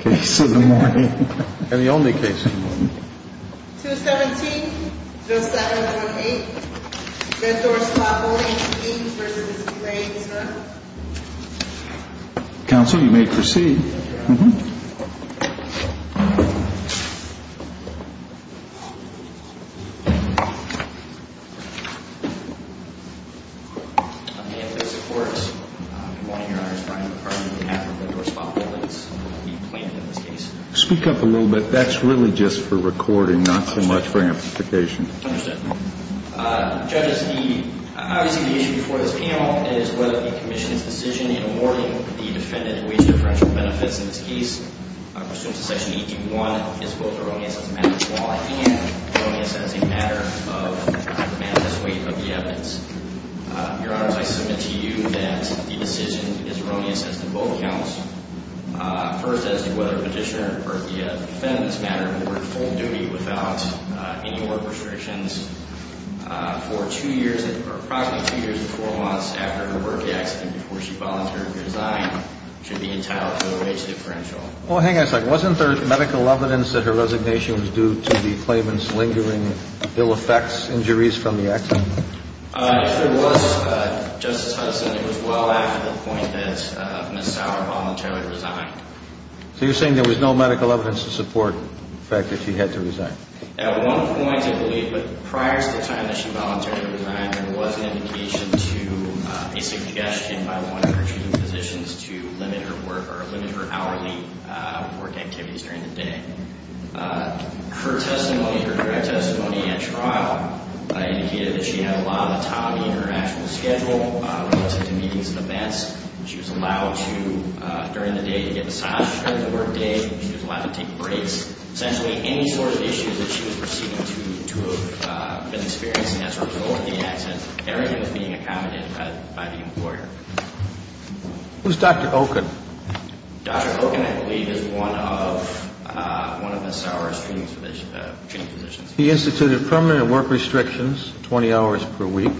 Case of the morning. And the only case of the morning. 217-0708, Red Door Spa Holdings, Inc v. IWCC Counsel, you may proceed. Speak up a little bit. That's really just for recording, not so much for amplification. Understood. Judges, obviously the issue before this panel is whether the commission's decision in awarding the defendant wage differential benefits in this case pursuant to Section 18.1 is both erroneous as a matter of law and erroneous as a matter of the weight of the evidence. Your Honors, I submit to you that the decision is erroneous as to both counts. First, as to whether a petitioner or the defendant, as a matter of the word, full duty without any work restrictions for approximately two years and four months after her work accident before she volunteered to resign should be entitled to a wage differential. Well, hang on a second. Wasn't there medical evidence that her resignation was due to the claimant's lingering ill effects, injuries from the accident? If there was, Justice Hudson, it was well after the point that Ms. Sauer voluntarily resigned. So you're saying there was no medical evidence to support the fact that she had to resign? At one point, I believe, but prior to the time that she voluntarily resigned, there was an indication to a suggestion by one of her treating physicians to limit her work or limit her hourly work activities during the day. Her testimony, her direct testimony at trial, indicated that she had a lot of time in her actual schedule relative to meetings and events. She was allowed to, during the day, to get massages during the work day. She was allowed to take breaks. Essentially, any sort of issues that she was receiving to have been experiencing as a result of the accident, everything was being accommodated by the employer. Who's Dr. Oken? Dr. Oken, I believe, is one of Ms. Sauer's treating physicians. He instituted permanent work restrictions, 20 hours per week.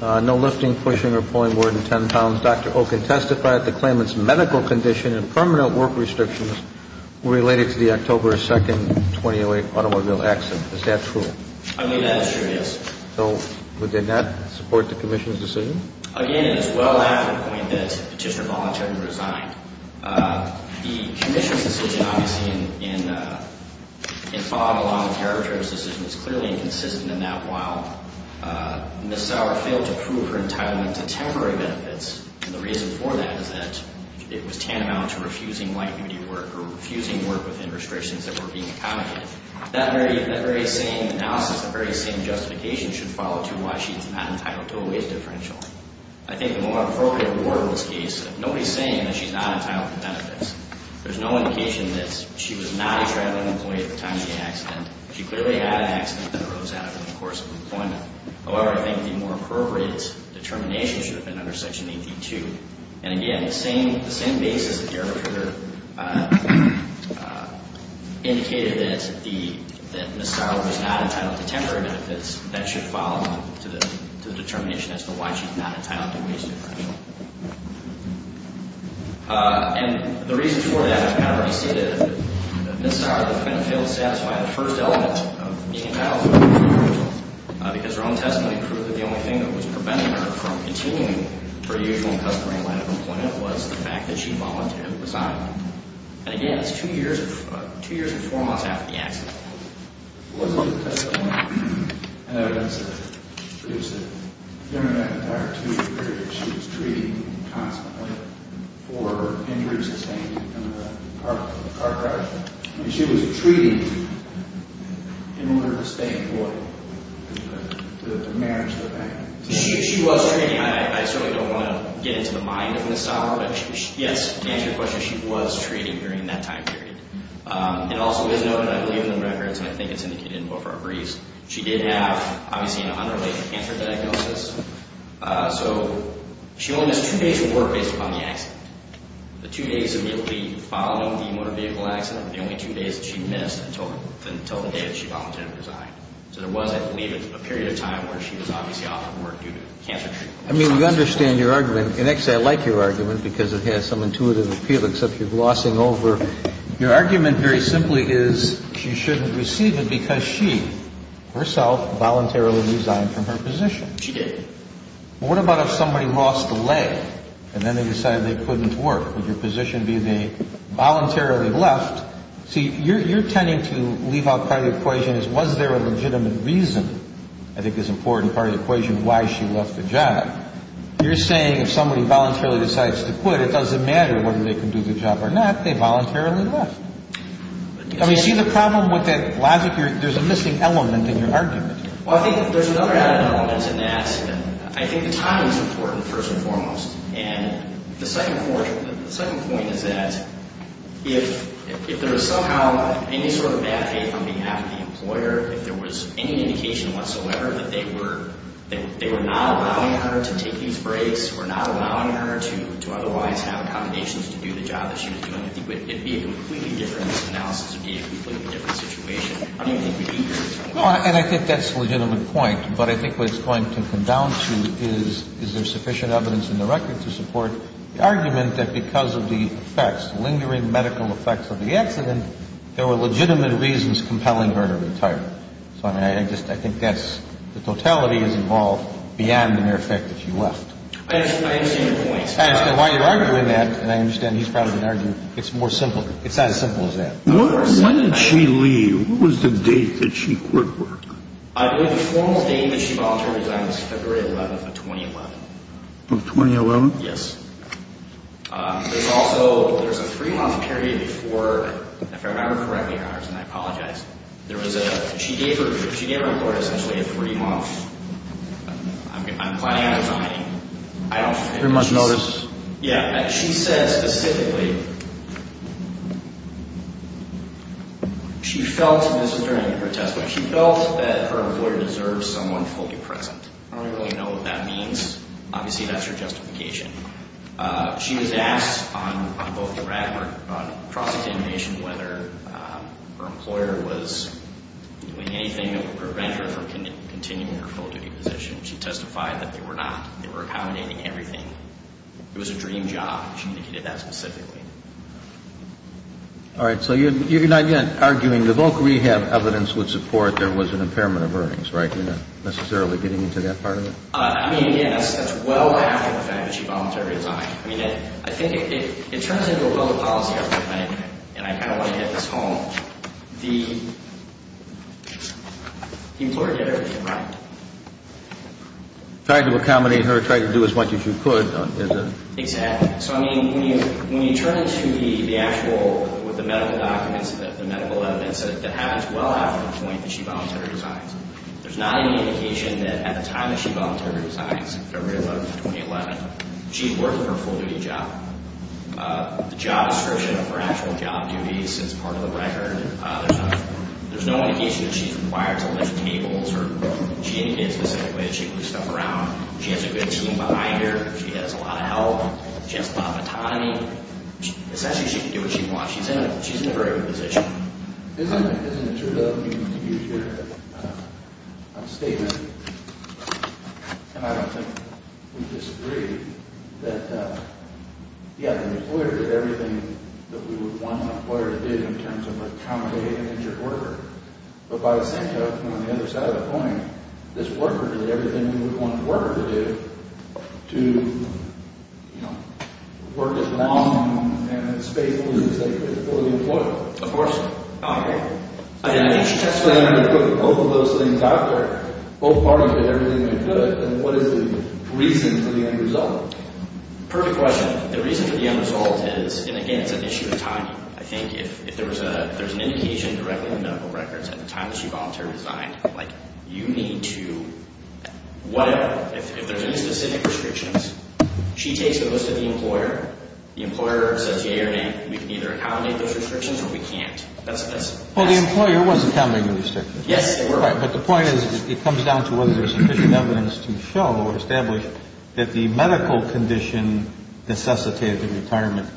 No lifting, pushing, or pulling more than 10 pounds. Dr. Oken testified that the claimant's medical condition and permanent work restrictions were related to the October 2, 2008 automobile accident. Is that true? I believe that is true, yes. So would that not support the commission's decision? Again, it is well after the point that Petitioner voluntarily resigned. The commission's decision, obviously, in following along with the arbitrator's decision, is clearly inconsistent in that while Ms. Sauer failed to prove her entitlement to temporary benefits, and the reason for that is that it was tantamount to refusing light duty work or refusing work within restrictions that were being accommodated. That very same analysis, that very same justification should follow to why she's not entitled to a wage differential. I think the more appropriate reward in this case, nobody's saying that she's not entitled to benefits. There's no indication that she was not a traveling employee at the time of the accident. She clearly had an accident that arose out of it in the course of employment. However, I think the more appropriate determination should have been under Section 82. And again, the same basis that the arbitrator indicated that Ms. Sauer was not entitled to temporary benefits, that should follow to the determination as to why she's not entitled to a wage differential. And the reason for that, however, is that Ms. Sauer failed to satisfy the first element of being entitled to a wage differential because her own testimony proved that the only thing that was preventing her from continuing her usual customary line of employment was the fact that she voluntarily resigned. And again, that's two years and four months after the accident. Was it the testimony of evidence that proves that during that entire two-year period, she was treated constantly for injury sustained in a car crash? I mean, she was treated in order to stay employed, the marriage, the family. She was treated. I certainly don't want to get into the mind of Ms. Sauer. But yes, to answer your question, she was treated during that time period. It also is noted, I believe in the records, and I think it's indicated in both our briefs, she did have, obviously, an unrelated cancer diagnosis. So she only missed two days of work based upon the accident. The two days immediately following the motor vehicle accident were the only two days that she missed until the day that she voluntarily resigned. So there was, I believe, a period of time where she was obviously off from work due to cancer treatment. I mean, we understand your argument. And actually, I like your argument because it has some intuitive appeal, except you're glossing over. Your argument very simply is she shouldn't receive it because she, herself, voluntarily resigned from her position. She did. Well, what about if somebody lost a leg and then they decided they couldn't work? Would your position be they voluntarily left? See, you're tending to leave out part of the equation as was there a legitimate reason, I think is an important part of the equation, why she left the job. You're saying if somebody voluntarily decides to quit, it doesn't matter whether they can do the job or not, they voluntarily left. Do you see the problem with that logic? There's a missing element in your argument. Well, I think there's another element in that. I think the timing is important, first and foremost. And the second point is that if there was somehow any sort of bad faith on behalf of the employer, if there was any indication whatsoever that they were not allowing her to take these breaks or not allowing her to otherwise have accommodations to do the job that she was doing, it would be a completely different analysis. It would be a completely different situation. How do you think we'd be here? Well, and I think that's a legitimate point. But I think what it's going to come down to is, is there sufficient evidence in the record to support the argument that because of the effects, because of the effects of the accident, there were legitimate reasons compelling her to retire. So, I mean, I just, I think that's, the totality is involved beyond the mere fact that she left. I understand your point. And while you're arguing that, and I understand he's probably going to argue it's more simple, it's not as simple as that. When did she leave? What was the date that she quit work? The formal date that she voluntarily resigned was February 11th of 2011. Of 2011? Yes. There's also, there's a three-month period for, if I remember correctly, and I apologize, there was a, she gave her, she gave her employer essentially a three-month, I'm planning on resigning, I don't think. Very much notice. Yeah. She said specifically, she felt, and this was during the protest, but she felt that her employer deserved someone fully present. I don't really know what that means. Obviously, that's her justification. She was asked on both the record, on cross-examination, whether her employer was doing anything that would prevent her from continuing her full-duty position. She testified that they were not. They were accommodating everything. It was a dream job. She indicated that specifically. All right. So, you're not yet arguing the voc rehab evidence would support there was an impairment of earnings, right? You're not necessarily getting into that part of it? I mean, yes, that's well after the fact that she voluntarily resigned. I mean, I think it turns into a public policy argument, and I kind of want to hit this home. The employer did everything right. Tried to accommodate her, tried to do as much as you could. Exactly. So, I mean, when you turn to the actual, with the medical documents, the medical evidence that happens well after the point that she voluntarily resigned, there's not any indication that at the time that she voluntarily resigns, February 11, 2011, she's working her full-duty job. The job description of her actual job duties is part of the record. There's no indication that she's required to lift tables or she indicated specifically that she can move stuff around. She has a good team behind her. She has a lot of help. She has a lot of autonomy. Essentially, she can do what she wants. She's in a very good position. Isn't it true, though, you used your statement, and I don't think we disagree, that, yeah, the employer did everything that we would want an employer to do in terms of accommodate an injured worker. But by the same token, on the other side of the coin, this worker did everything we would want a worker to do to, you know, work as long and as faithfully as they could for the employer. Of course. Okay. And I think she testified on both of those things out there. Both parties did everything they could. And what is the reason for the end result? Perfect question. The reason for the end result is, and again, it's an issue of timing. I think if there's an indication directly in the medical records at the time that she voluntarily resigned, like you need to, whatever, if there's any specific restrictions, she takes the list of the employer. The employer says, yeah, you're right. We can either accommodate those restrictions or we can't. That's it. Well, the employer was accommodating the restrictions. Yes, they were. Right. But the point is it comes down to whether there's sufficient evidence to show or establish that the medical condition necessitated the retirement,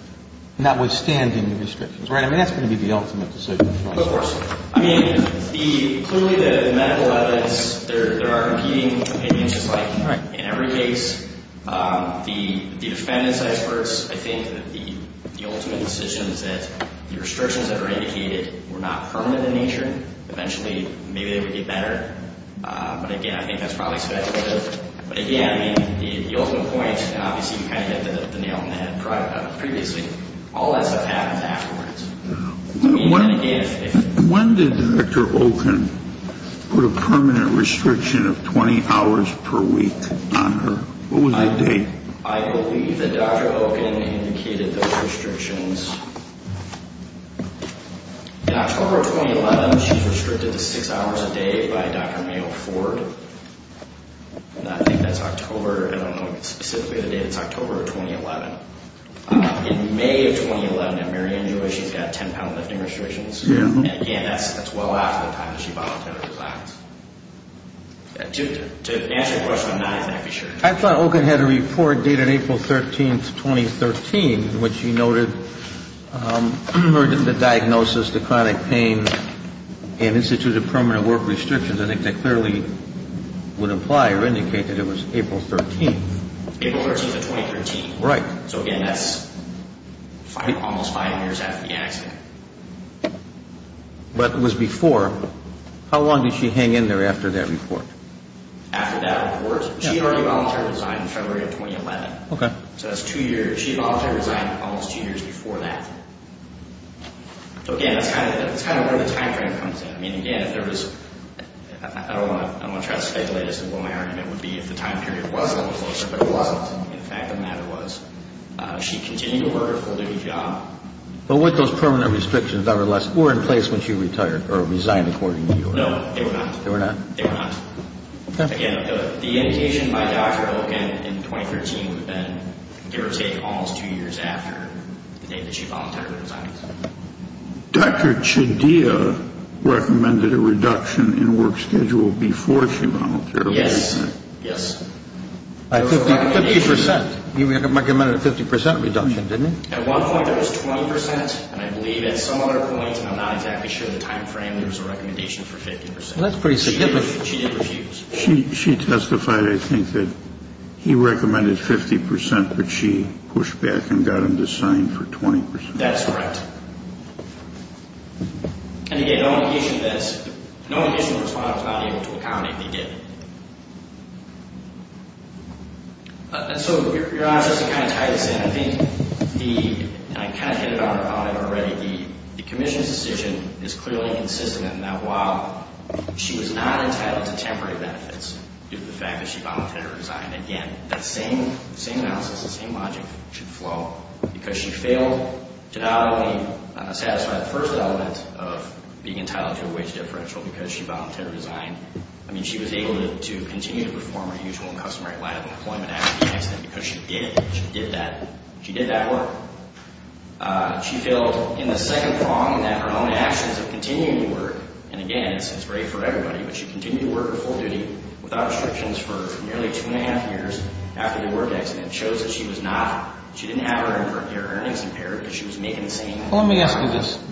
notwithstanding the restrictions. Right? I mean, that's going to be the ultimate decision. Of course. I mean, clearly the medical evidence, there are competing opinions, just like in every case. The defendant's experts, I think the ultimate decision is that the restrictions that are indicated were not permanent in nature. Eventually, maybe they would get better. But, again, I think that's probably speculative. But, again, the ultimate point, and obviously you kind of hit the nail on the head previously, all that stuff happens afterwards. When did Dr. Oken put a permanent restriction of 20 hours per week on her? What was the date? I believe that Dr. Oken indicated those restrictions. In October of 2011, she's restricted to six hours a day by Dr. Mayo Ford. I think that's October. I don't know specifically the date. It's October of 2011. In May of 2011, at Mary Ann Joy, she's got 10-pound lifting restrictions. And, again, that's well after the time that she volunteered to file. To answer your question, I'm not exactly sure. I thought Oken had a report dated April 13, 2013, in which she noted the diagnosis, the chronic pain, and instituted permanent work restrictions. I think that clearly would imply or indicate that it was April 13. April 13 of 2013. Right. So, again, that's almost five years after the accident. But it was before. How long did she hang in there after that report? After that report? She volunteered to resign in February of 2011. Okay. So that's two years. She volunteered to resign almost two years before that. So, again, that's kind of where the time frame comes in. I mean, again, if there was—I don't want to try to speculate as to what my argument would be if the time period was a little closer, but it wasn't. In fact, the matter was she continued to work her full-day job. But were those permanent restrictions, nevertheless, were in place when she retired or resigned, according to you? No, they were not. They were not? They were not. Again, the indication by Dr. Oken in 2013 would have been it would take almost two years after the day that she volunteered to resign. Dr. Chedia recommended a reduction in work schedule before she volunteered to resign. Yes, yes. A 50 percent. You recommended a 50 percent reduction, didn't you? At one point, it was 20 percent. And I believe at some other point, and I'm not exactly sure of the time frame, there was a recommendation for 50 percent. Well, that's pretty significant. She did refuse. She testified, I think, that he recommended 50 percent, but she pushed back and got him to sign for 20 percent. That's correct. And, again, no indication of this. No indication the respondent was not able to accommodate. They did. And so your answer is to kind of tie this in. I think the, and I kind of hinted on it already, the commission's decision is clearly consistent in that while she was not entitled to temporary benefits due to the fact that she volunteered to resign, again, that same analysis, the same logic should flow because she failed to not only satisfy the first element of being entitled to a wage differential because she volunteered to resign. I mean, she was able to continue to perform her usual customary line of employment after the accident because she did it. She did that. She did that work. She failed in the second prong that her own actions of continuing to work, and, again, this is great for everybody, but she continued to work her full duty without restrictions for nearly two and a half years after the work accident. And it shows that she was not, she didn't have her earnings impaired because she was making the same... Well, let me ask you this.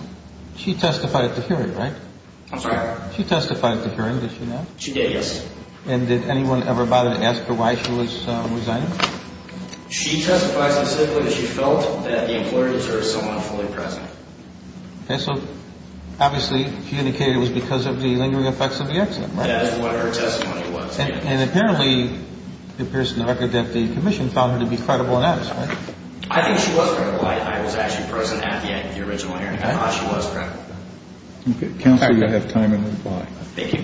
She testified at the hearing, right? I'm sorry? She testified at the hearing, did she not? She did, yes. And did anyone ever bother to ask her why she was resigning? She testified specifically that she felt that the employer deserved someone fully present. Okay, so obviously she indicated it was because of the lingering effects of the accident, right? That is what her testimony was. And apparently it appears in the record that the commission found her to be credible in that. I think she was credible. I was actually present at the original hearing. I thought she was credible. Counsel, you have time in reply. Thank you.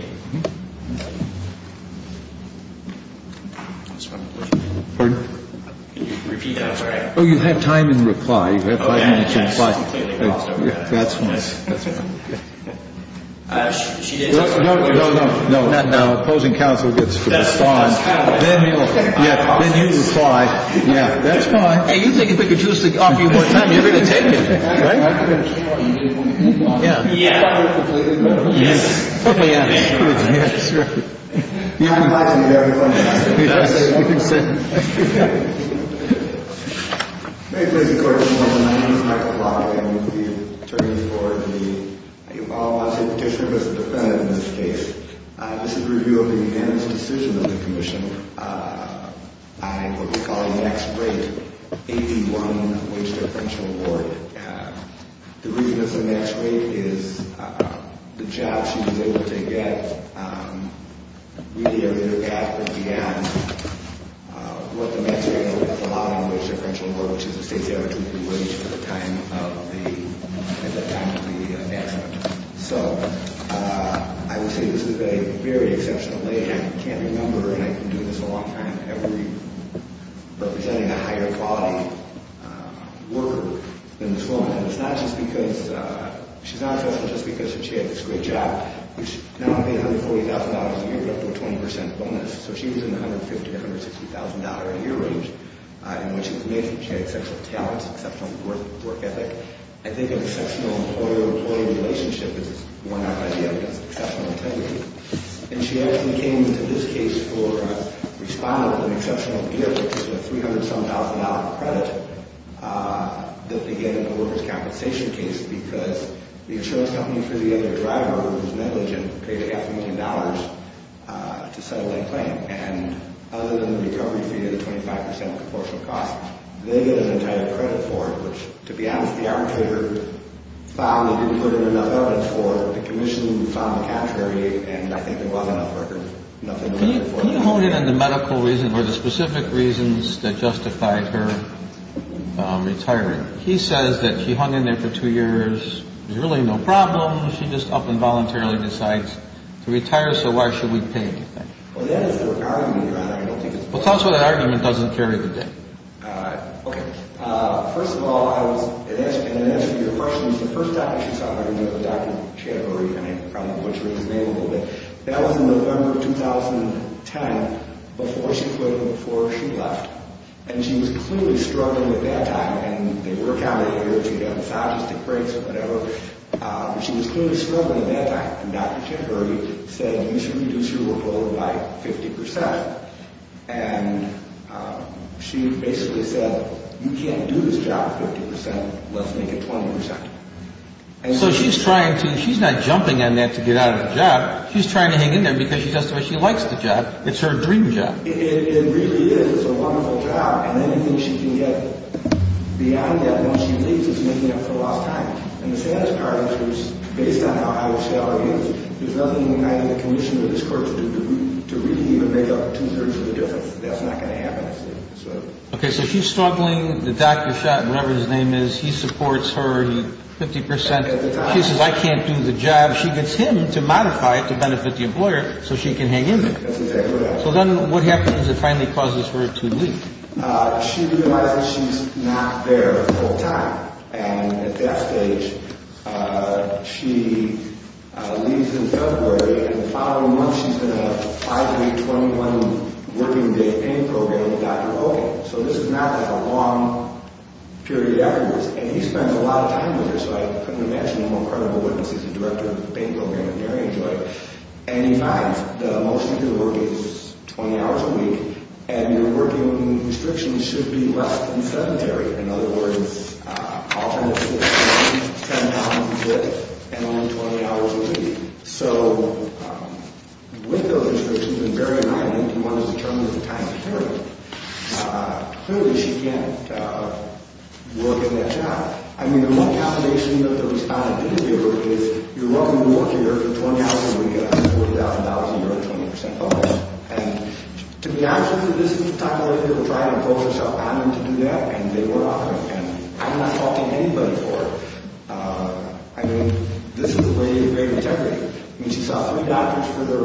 Pardon? Can you repeat that? I'm sorry. Oh, you have time in reply. You have five minutes in reply. That's fine. No, no, no, not now. Opposing counsel gets five. Then you reply. That's fine. Hey, you think if we could just offer you more time, you're going to take it, right? Yeah. Yes. Yes. Yes. Yes. Yes. You can sit. May it please the Court. My name is Michael Block. I'm the attorney for the, I can follow up as a petitioner, but as a defendant in this case. This is a review of the unanimous decision of the commission on what we call the next great AP1 wage deferential award. The reason it's the next great is the job she was able to get. We are looking at what the next great is a lot of wage deferential award, which is the state's average wage at the time of the announcement. So I would say this is a very exceptional day. I can't remember, and I've been doing this a long time, representing a higher quality worker than this woman. And it's not just because, she's not exceptional just because she had this great job. Now I pay $140,000 a year, up to a 20% bonus. So she was in the $150,000, $160,000 a year range. And what she was made for, she had exceptional talent, exceptional work ethic. I think an exceptional employer-employee relationship is a worn out idea, but it's exceptional integrity. And she actually came to this case for a respondent with an exceptional gift, which is a $300-some-thousand credit that they get in the workers' compensation case because the insurance company threw the other driver, who was negligent, paid a half a million dollars to settle that claim. And other than the recovery fee of the 25% proportional cost, they get an entire credit for it, which to be honest, the arbitrator found they didn't put in enough evidence for it. The commission found the category, and I think there was enough record for it. Can you hone in on the medical reasons or the specific reasons that justified her retiring? He says that she hung in there for two years. There was really no problem. She just up and voluntarily decides to retire, so why should we pay anything? Well, that is the argument. Well, tell us what that argument doesn't carry today. Okay. First of all, I was, in answer to your question, the first time she saw Dr. Chatterbury, and I probably butchered his name a little bit, that was in November of 2010 before she quit and before she left. And she was clearly struggling at that time, and they work out of the years. You've got massages, tick breaks, whatever. But she was clearly struggling at that time. And Dr. Chatterbury said, you need to reduce your workload by 50%. And she basically said, you can't do this job 50%. Let's make it 20%. So she's trying to ‑‑ she's not jumping on that to get out of the job. She's trying to hang in there because she does it the way she likes the job. It's her dream job. It really is. It's a wonderful job. And anything she can get beyond that once she leaves is making up for lost time. And the saddest part is, based on how high the salary is, there's nothing in the condition of this court to really even make up two-thirds of the difference. That's not going to happen. Okay, so she's struggling. The doctor shot whatever his name is. He supports her 50%. She says, I can't do the job. She gets him to modify it to benefit the employer so she can hang in there. That's exactly right. So then what happens is it finally causes her to leave. She realizes she's not there full time. And at that stage, she leaves in February. And the following month, she's in a five‑week, 21‑working‑day pain program with Dr. Hogan. So this is not a long period of effort. And he spends a lot of time with her, so I couldn't imagine a more credible witness. He's the director of the pain program at Marion Joy. And he finds the motion to work is 20 hours a week, and your working restrictions should be less than sedentary. In other words, alternate shifts, 10 hours a week, and only 20 hours a week. So with those restrictions in Marion, I think he wants to determine the time to carry it. Clearly, she can't work in that job. I mean, one combination of the responsibilities here is you're welcome to work here for 20 hours a week on $40,000 a year and 20% bonus. And to be honest with you, this is the type of thing people try to impose on themselves. And I'm not faulting anybody for it. I mean, this is a lady of great integrity. I mean, she saw three doctors for the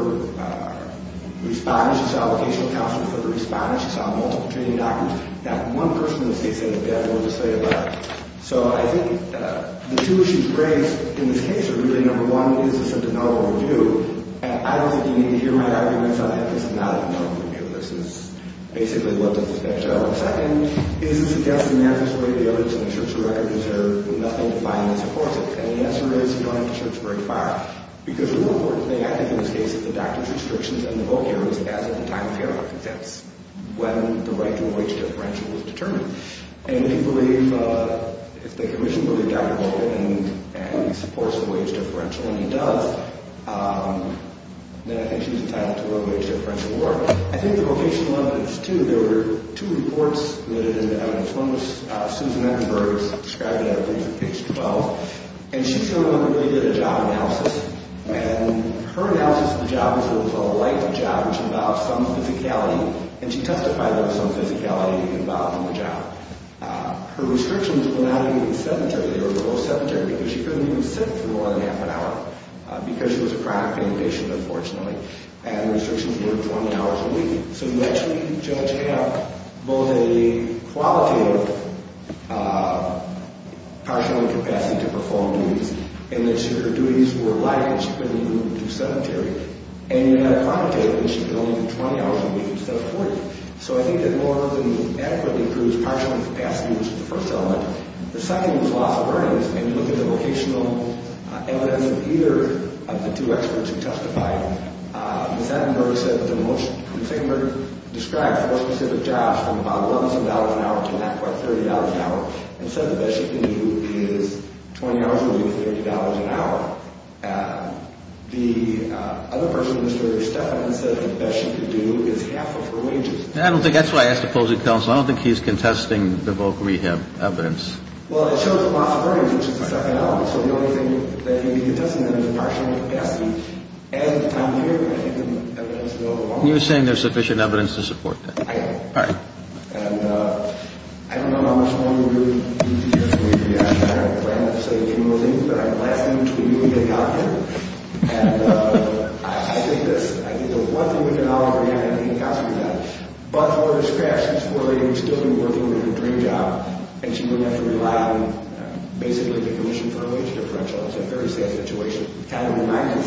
responders. She saw a vocational counselor for the responders. She saw multiple training doctors. That one person in this case is a devil to say the least. So I think the two issues raised in this case are really, number one, is this a development review? And I don't think you need to hear my arguments on that because it's not a development review. This is basically what this is going to show. And, number two, is it suggesting that this way the evidence in the Sheriff's record is there? Nothing to find that supports it. And the answer is you don't have to search very far. Because the more important thing, I think, in this case is the doctor's restrictions and the vocaries as of the time of hearing. That's when the right to a wage differential was determined. And if you believe, if the commission believes Dr. Baldwin supports a wage differential, and he does, then I think she's entitled to a wage differential award. Well, I think the vocational evidence, too, there were two reports submitted in the evidence. One was Susan Eckenberg's. I described it at a brief at page 12. And she, for one, really did a job analysis. And her analysis of the job was what was called a life job, which involved some physicality. And she testified there was some physicality involved in the job. Her restrictions were not even sedentary. They were both sedentary because she couldn't even sit for more than half an hour because she was a chronic pain patient, unfortunately. And her restrictions were 20 hours a week. So you actually, Judge, have both a qualitative partial incapacity to perform duties, and that her duties were light and she couldn't even do sedentary. And you had a quantitative, and she could only do 20 hours a week instead of 40. So I think that more than adequately proves partial incapacity was the first element. The second was loss of earnings. When you look at the vocational evidence of either of the two experts who testified, Ms. Eckenberg said that the most, Ms. Eckenberg described four specific jobs from about $1,000 an hour to not quite $30 an hour and said the best she can do is 20 hours a week, $30 an hour. The other person, Mr. Stephan, said the best she could do is half of her wages. I don't think that's why I asked the opposing counsel. I don't think he's contesting the voc rehab evidence. Well, it shows loss of earnings, which is the second element. So the only thing that he's contesting is partial incapacity. And I'm here, and I think the evidence is overwhelming. You're saying there's sufficient evidence to support that. I am. All right. And I don't know how much longer we're going to be here. I don't plan to say any more things, but I'm lasting until you get out of here. And I think this, I think the one thing we can all agree on, I think, I think the counsel can do that. But for the rest of her life, she's still going to be working with her dream job, and she's going to have to rely on basically the commission for her wage differential. It's a very sad situation. It's kind of a reminder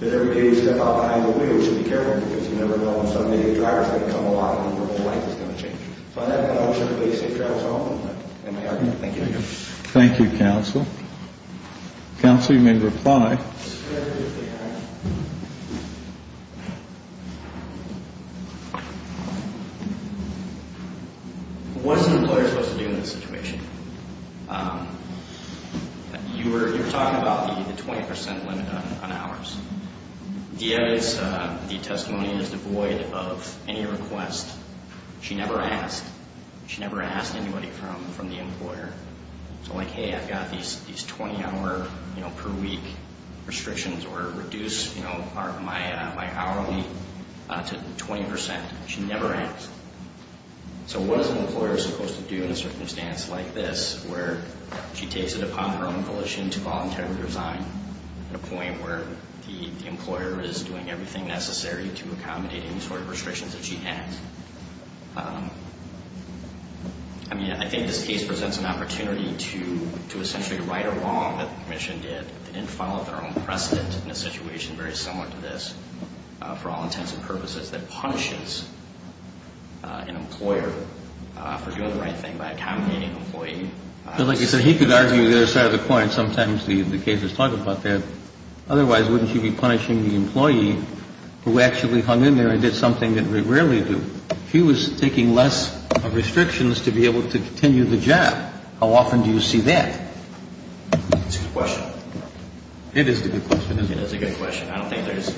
that every day you step out behind the wheel, you should be careful because you never know on Sunday, the driver's going to come along and your whole life is going to change. So on that note, I want to wish everybody safe travels home. Thank you. Thank you, counsel. Counsel, you may reply. It's a very good thing. What is an employer supposed to do in this situation? You were talking about the 20% limit on hours. The evidence, the testimony is devoid of any request. She never asked. She never asked anybody from the employer. So, like, hey, I've got these 20-hour per week restrictions or reduce my hourly to 20%. She never asked. So what is an employer supposed to do in a circumstance like this where she takes it upon her own volition to voluntarily resign at a point where the employer is doing everything necessary to accommodate any sort of restrictions that she has? I mean, I think this case presents an opportunity to essentially right or wrong what the Commission did. They didn't follow their own precedent in a situation very similar to this for all intents and purposes that punishes an employer for doing the right thing by accommodating an employee. So, like you said, he could argue the other side of the coin. Sometimes the cases talk about that. Otherwise, wouldn't she be punishing the employee who actually hung in there and did something that we rarely do? She was taking less restrictions to be able to continue the job. How often do you see that? That's a good question. It is a good question, isn't it? It is a good question. I don't think there's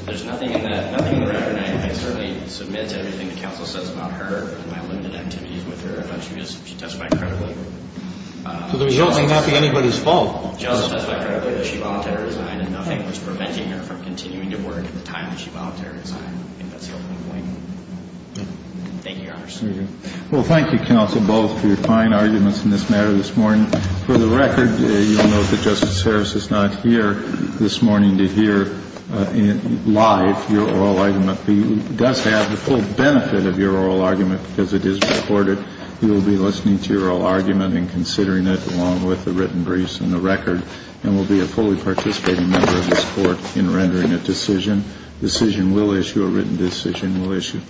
– there's nothing in that – nothing in the record I can certainly submit to everything the counsel says about her and my limited activities with her, but she testified credibly. So the result may not be anybody's fault. She also testified credibly that she voluntarily resigned and nothing was preventing her from continuing to work at the time that she voluntarily resigned. I think that's the opening point. Thank you, Your Honor. Thank you. Well, thank you, counsel, both, for your fine arguments in this matter this morning. For the record, you will note that Justice Harris is not here this morning to hear live your oral argument. He does have the full benefit of your oral argument because it is recorded. He will be listening to your oral argument and considering it along with the written briefs and the record and will be a fully participating member of this Court in rendering a decision. A decision will issue, a written decision will issue.